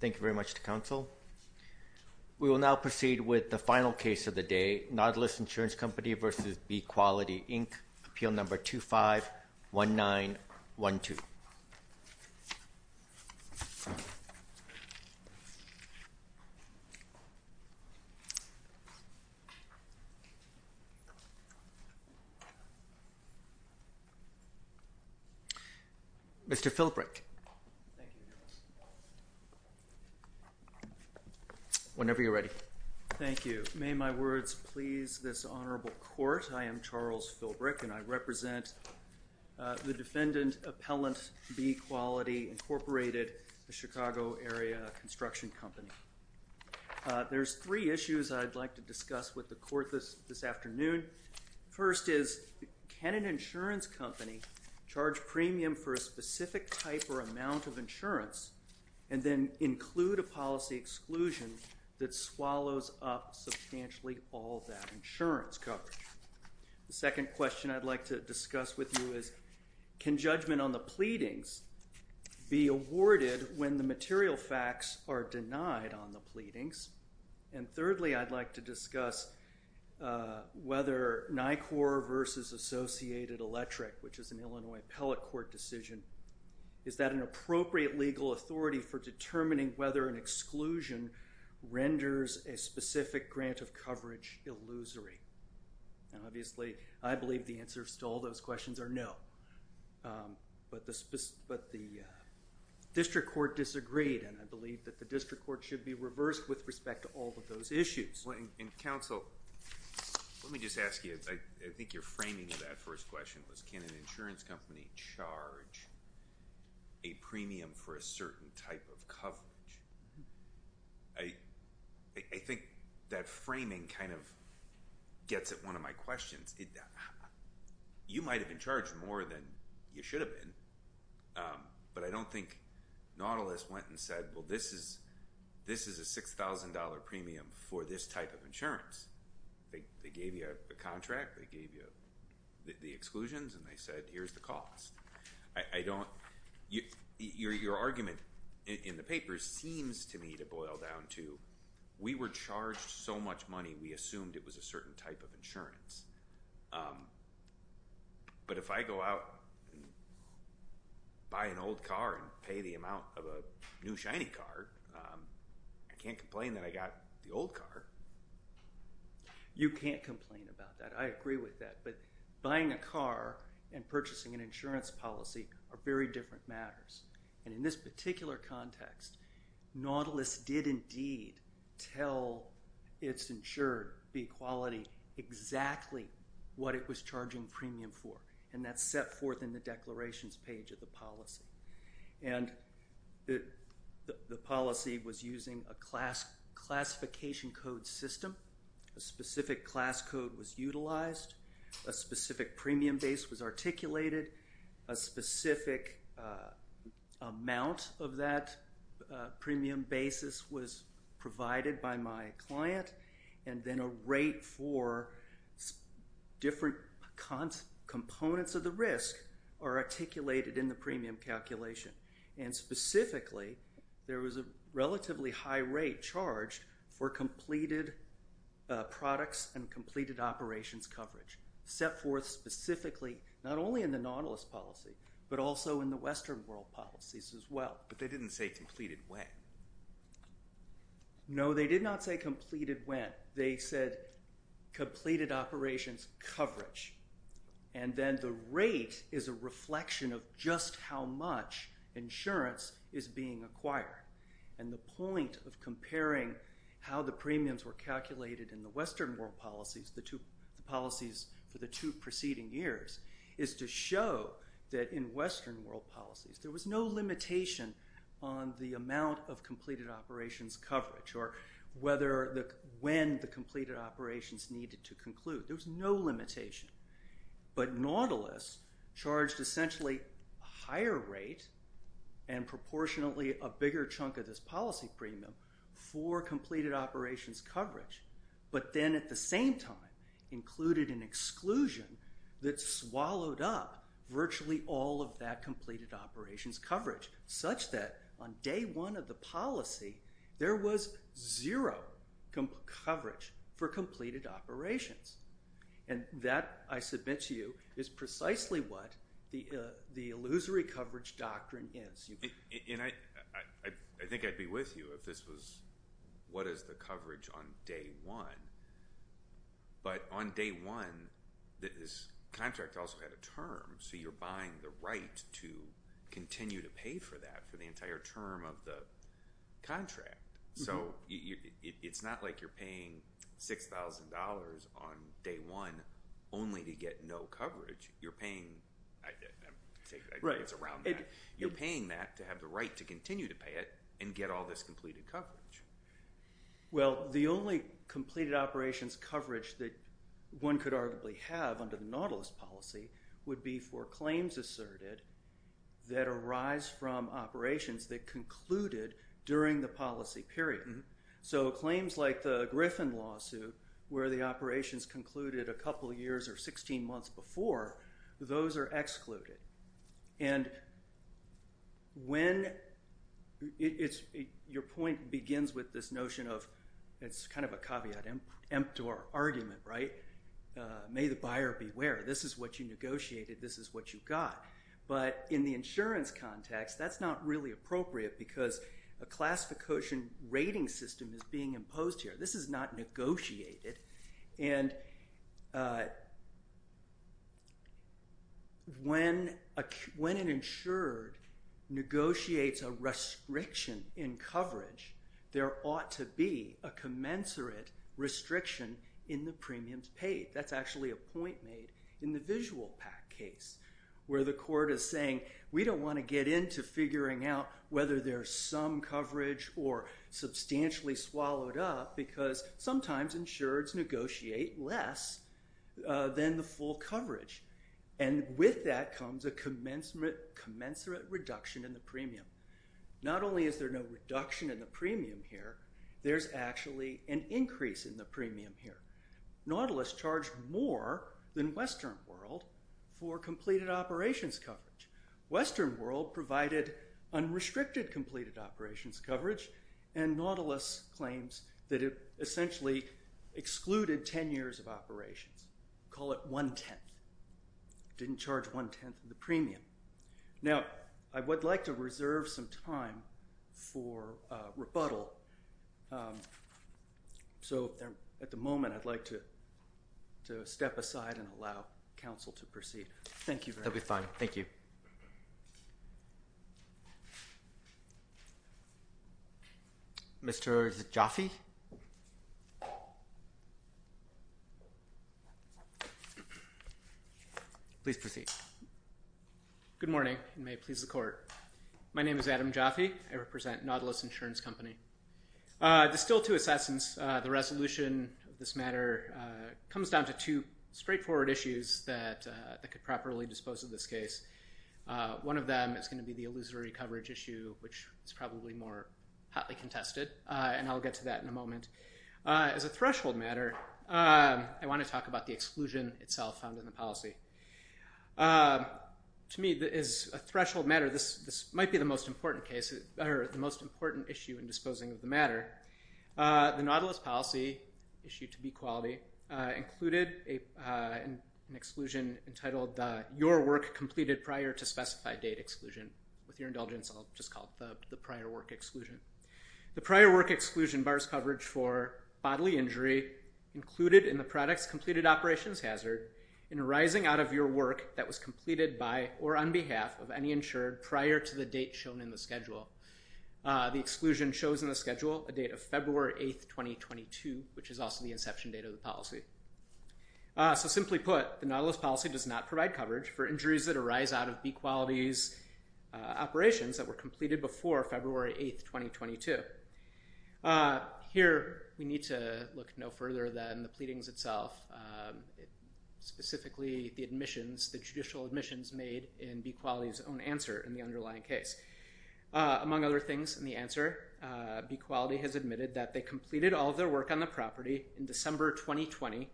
Thank you very much to council. We will now proceed with the final case of the day, Nautilus Insurance Company v. Bee Quality Inc. Appeal number 251912. Mr. Philbrick. Thank you, Nautilus. Whenever you're ready. Thank you. May my words please this honorable court. I am Charles Philbrick, and I represent the defendant, Appellant Bee Quality, Incorporated, a Chicago-area construction company. There's three issues I'd like to discuss with the court this afternoon. First is, can an insurance company charge premium for a specific type or amount of insurance and then include a policy exclusion that swallows up substantially all that insurance coverage? The second question I'd like to discuss with you is, can judgment on the pleadings be awarded when the material facts are denied on the pleadings? And thirdly, I'd like to discuss whether NICOR v. Associated Electric, which is an Illinois appellate court decision, is that an appropriate legal authority for determining whether an exclusion renders a specific grant of coverage illusory? And obviously, I believe the answer to all those questions are no. But the district court disagreed, and I believe that the district court should be reversed with respect to all of those issues. And counsel, let me just ask you. I think your framing of that first question was, can an insurance company charge a premium for a certain type of coverage? I think that framing kind of gets at one of my questions. You might have been charged more than you should have been, but I don't think Nautilus went and said, well, this is a $6,000 premium for this type of insurance. They gave you a contract, they gave you the exclusions, and they said, here's the cost. Your argument in the paper seems to me to boil down to, we were charged so much money we assumed it was a certain type of insurance. But if I go out and buy an old car and pay the amount of a new shiny car, I can't complain that I got the old car. You can't complain about that. I agree with that. But buying a car and purchasing an insurance policy are very different matters. And in this particular context, Nautilus did indeed tell its insured B-Quality exactly what it was charging premium for. And that's set forth in the declarations page of the policy. And the policy was using a classification code system. A specific class code was utilized. A specific premium base was articulated. A specific amount of that premium basis was provided by my client. And then a rate for different components of the risk are articulated in the premium calculation. And specifically, there was a relatively high rate charged for completed products and completed operations coverage. Set forth specifically, not only in the Nautilus policy, but also in the Western world policies as well. But they didn't say completed when. No, they did not say completed when. They said completed operations coverage. And then the rate is a reflection of just how much insurance is being acquired. And the point of comparing how the premiums were calculated in the Western world policies, the policies for the two preceding years, is to show that in Western world policies, there was no limitation on the amount of completed operations coverage or when the completed operations needed to conclude. There was no limitation. But Nautilus charged essentially a higher rate and proportionately a bigger chunk of this policy premium for completed operations coverage. But then at the same time, included an exclusion that swallowed up virtually all of that completed operations coverage. Such that on day one of the policy, there was zero coverage for completed operations. And that, I submit to you, is precisely what the illusory coverage doctrine is. And I think I'd be with you if this was what is the coverage on day one. But on day one, this contract also had a term. So you're buying the right to continue to pay for that for the entire term of the contract. So it's not like you're paying $6,000 on day one only to get no coverage. You're paying that to have the right to continue to pay it and get all this completed coverage. Well, the only completed operations coverage that one could arguably have under the Nautilus policy would be for claims asserted that arise from operations that concluded during the policy period. So claims like the Griffin lawsuit, where the operations concluded a couple years or 16 months before, those are excluded. And when it's your point begins with this notion of it's kind of a caveat emptor argument, right? May the buyer beware. This is what you negotiated. This is what you got. But in the insurance context, that's not really appropriate because a classification rating system is being imposed here. This is not negotiated. And when an insured negotiates a restriction in coverage, there ought to be a commensurate restriction in the premiums paid. That's actually a point made in the visual PAC case, where the court is saying, we don't want to get into figuring out whether there's some coverage or substantially swallowed up because sometimes insureds negotiate less than the full coverage. And with that comes a commensurate reduction in the premium. Not only is there no reduction in the premium here, there's actually an increase in the premium here. Nautilus charged more than Western World for completed operations coverage. Western World provided unrestricted completed operations coverage, and Nautilus claims that it essentially excluded 10 years of operations. Call it one-tenth. Didn't charge one-tenth of the premium. Now, I would like to reserve some time for rebuttal. So at the moment, I'd like to step aside and allow counsel to proceed. Thank you very much. We have time. Thank you. Mr. Jaffe? Please proceed. Good morning, and may it please the court. My name is Adam Jaffe. I represent Nautilus Insurance Company. There's still two assessments. The resolution of this matter comes down to two straightforward issues that could properly dispose of this case. One of them is going to be the illusory coverage issue, which is probably more hotly contested, and I'll get to that in a moment. As a threshold matter, I want to talk about the exclusion itself found in the policy. To me, as a threshold matter, this might be the most important issue in disposing of the matter. The Nautilus policy, issued to be quality, included an exclusion entitled, Your Work Completed Prior to Specified Date Exclusion. With your indulgence, I'll just call it the prior work exclusion. The prior work exclusion bars coverage for bodily injury included in the product's completed operations hazard in arising out of your work that was completed by or on behalf of any insured prior to the date shown in the schedule. The exclusion shows in the schedule a date of February 8th, 2022, which is also the inception date of the policy. So simply put, the Nautilus policy does not provide coverage for injuries that arise out of B Quality's operations that were completed before February 8th, 2022. Here, we need to look no further than the pleadings itself, specifically the judicial admissions made in B Quality's own answer in the underlying case. Among other things in the answer, B Quality has admitted that they completed all their work on the property in December 2020,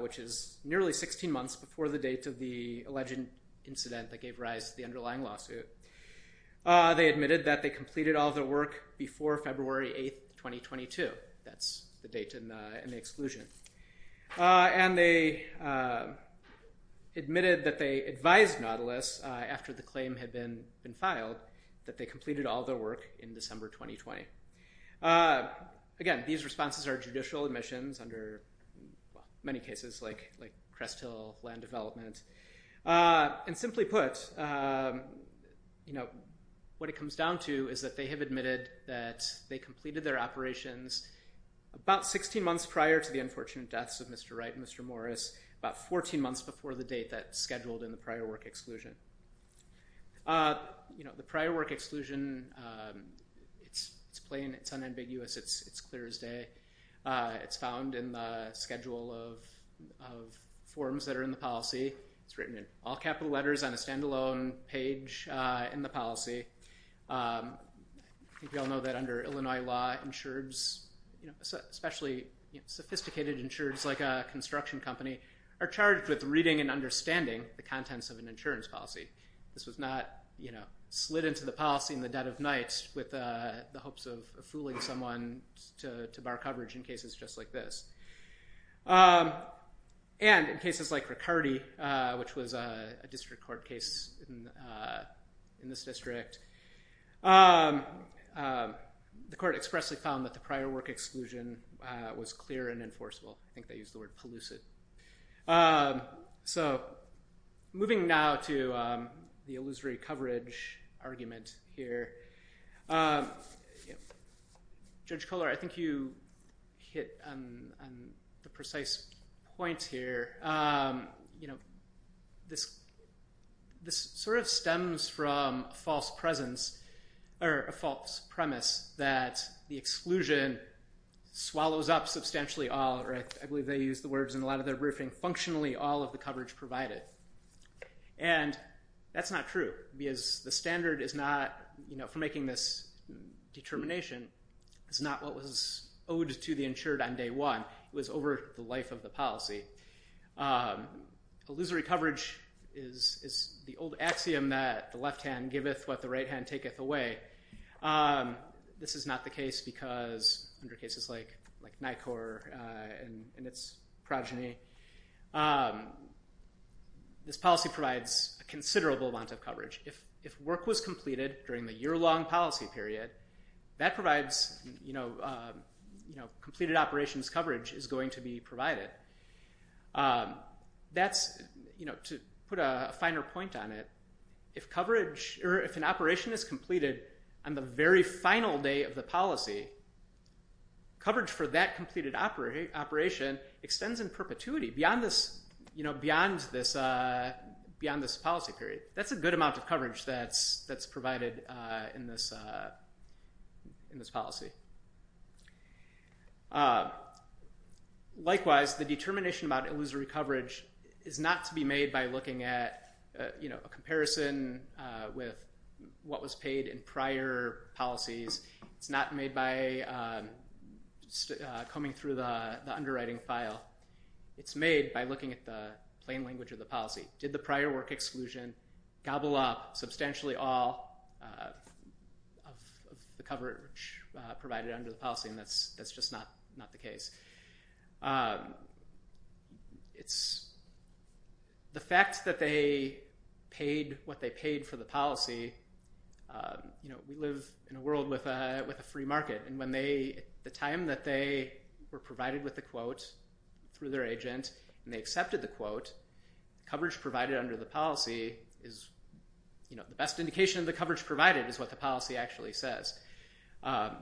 which is nearly 16 months before the date of the alleged incident that gave rise to the underlying lawsuit. They admitted that they completed all their work before February 8th, 2022. That's the date in the exclusion. And they admitted that they advised Nautilus after the claim had been filed that they completed all their work in December 2020. Again, these responses are judicial admissions under many cases like Crest Hill land development. And simply put, what it comes down to is that they have admitted that they completed their operations about 16 months prior to the unfortunate deaths of Mr. Wright and Mr. Morris, about 14 months before the date that's scheduled in the prior work exclusion. The prior work exclusion, it's plain, it's unambiguous, it's clear as day. It's found in the schedule of forms that are in the policy. It's written in all capital letters on a standalone page in the policy. I think we all know that under Illinois law, insureds, especially sophisticated insureds like a construction company, are charged with reading and understanding the contents of an insurance policy. This was not slid into the policy in the dead of night with the hopes of fooling someone to bar coverage in cases just like this. And in cases like Riccardi, which was a district court case in this district, the court expressly found that the prior work exclusion was clear and enforceable. I think they used the word pellucid. So moving now to the illusory coverage argument here. Judge Kohler, I think you hit on the precise point here. This sort of stems from a false premise that the exclusion swallows up substantially all, or I believe they used the words in a lot of their briefing, functionally all of the coverage provided. And that's not true because the standard for making this determination is not what was owed to the insured on day one. It was over the life of the policy. Illusory coverage is the old axiom that the left hand giveth what the right hand taketh away. This is not the case because under cases like NICOR and its progeny, this policy provides a considerable amount of coverage. If work was completed during the year-long policy period, that provides completed operations coverage is going to be provided. That's, to put a finer point on it, if an operation is completed on the very final day of the policy, coverage for that completed operation extends in perpetuity beyond this policy period. That's a good amount of coverage that's provided in this policy. Likewise, the determination about illusory coverage is not to be made by looking at a comparison with what was paid in prior policies. It's not made by combing through the underwriting file. It's made by looking at the plain language of the policy. Did the prior work exclusion gobble up substantially all of the coverage provided under the policy? And that's just not the case. The fact that they paid what they paid for the policy, we live in a world with a free market, and the time that they were provided with the quote through their agent, and they accepted the quote, the coverage provided under the policy is the best indication of the coverage provided is what the policy actually says. As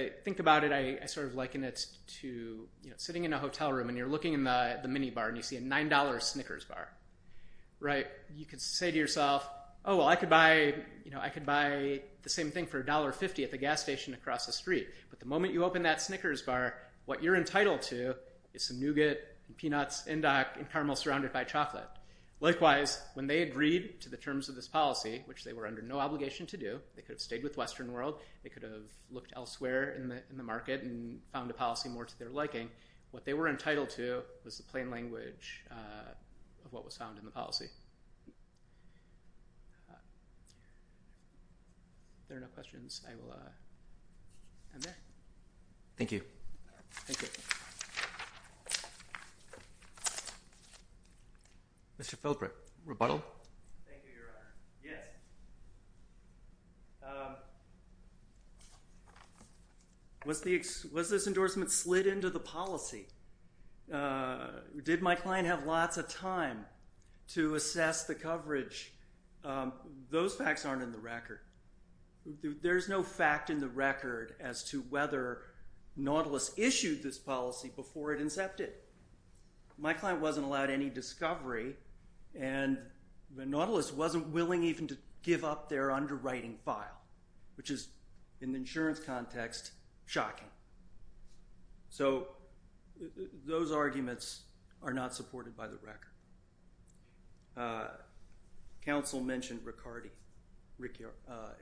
I think about it, I liken it to sitting in a hotel room, and you're looking in the minibar, and you see a $9 Snickers bar. You can say to yourself, oh, well, I could buy the same thing for $1.50 at the gas station across the street, but the moment you open that Snickers bar, what you're entitled to is some nougat and peanuts, and caramel surrounded by chocolate. Likewise, when they agreed to the terms of this policy, which they were under no obligation to do, they could have stayed with Western World, they could have looked elsewhere in the market and found a policy more to their liking. What they were entitled to was the plain language of what was found in the policy. If there are no questions, I will end there. Thank you. Thank you. Mr. Philbert, rebuttal? Thank you, Your Honor. Yes. Was this endorsement slid into the policy? Did my client have lots of time to assess the coverage? Those facts aren't in the record. There's no fact in the record as to whether Nautilus issued this policy before it incepted. My client wasn't allowed any discovery, and Nautilus wasn't willing even to give up their underwriting file, which is, in the insurance context, shocking. So those arguments are not supported by the record. Counsel mentioned Riccardi.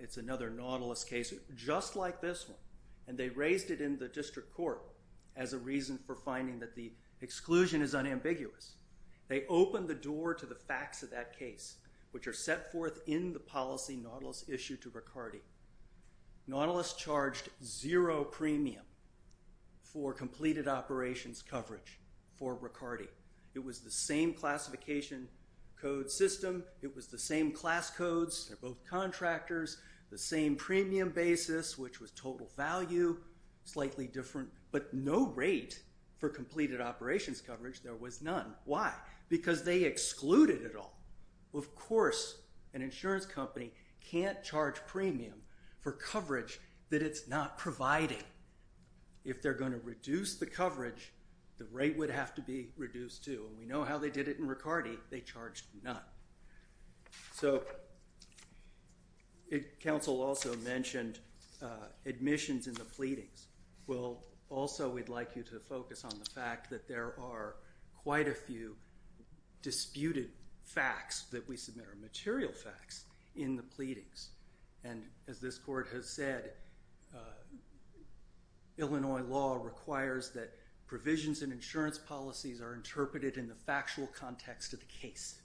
It's another Nautilus case just like this one, and they raised it in the district court as a reason for finding that the exclusion is unambiguous. They opened the door to the facts of that case, which are set forth in the policy Nautilus issued to Riccardi. Nautilus charged zero premium for completed operations coverage for Riccardi. It was the same classification code system. It was the same class codes. They're both contractors. The same premium basis, which was total value, slightly different, but no rate for completed operations coverage. There was none. Why? Because they excluded it all. Of course an insurance company can't charge premium for coverage that it's not providing. If they're going to reduce the coverage, the rate would have to be reduced too, and we know how they did it in Riccardi. They charged none. So counsel also mentioned admissions and the pleadings. Well, also we'd like you to focus on the fact that there are quite a few disputed facts that we submit or material facts in the pleadings, and as this court has said, Illinois law requires that provisions in insurance policies are interpreted in the factual context of the case.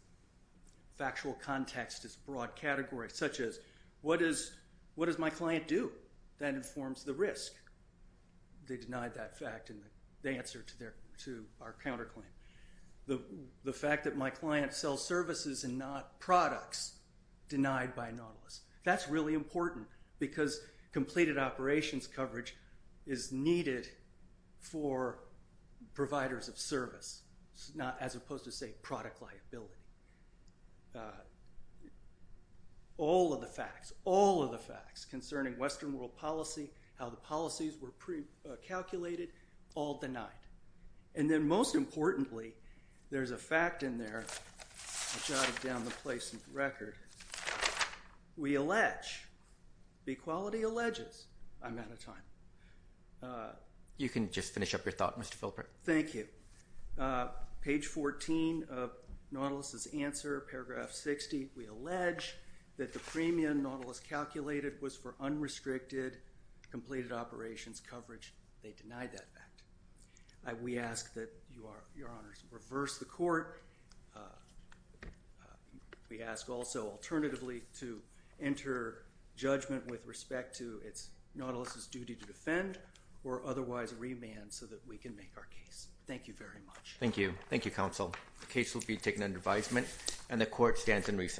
Factual context is broad category, such as what does my client do? That informs the risk. They denied that fact in the answer to our counterclaim. The fact that my client sells services and not products denied by Nautilus, that's really important because completed operations coverage is needed for providers of service, as opposed to, say, product liability. All of the facts, all of the facts concerning Western world policy, how the policies were calculated, all denied. And then most importantly, there's a fact in there. I'll jot it down to place in the record. We allege, B-Quality alleges, I'm out of time. You can just finish up your thought, Mr. Philpert. Thank you. Page 14 of Nautilus' answer, paragraph 60, we allege that the premium Nautilus calculated was for unrestricted completed operations coverage. They denied that fact. We ask that Your Honors reverse the court. We ask also alternatively to enter judgment with respect to Nautilus' duty to defend or otherwise remand so that we can make our case. Thank you very much. Thank you. Thank you, Counsel. The case will be taken under advisement and the court stands in recess.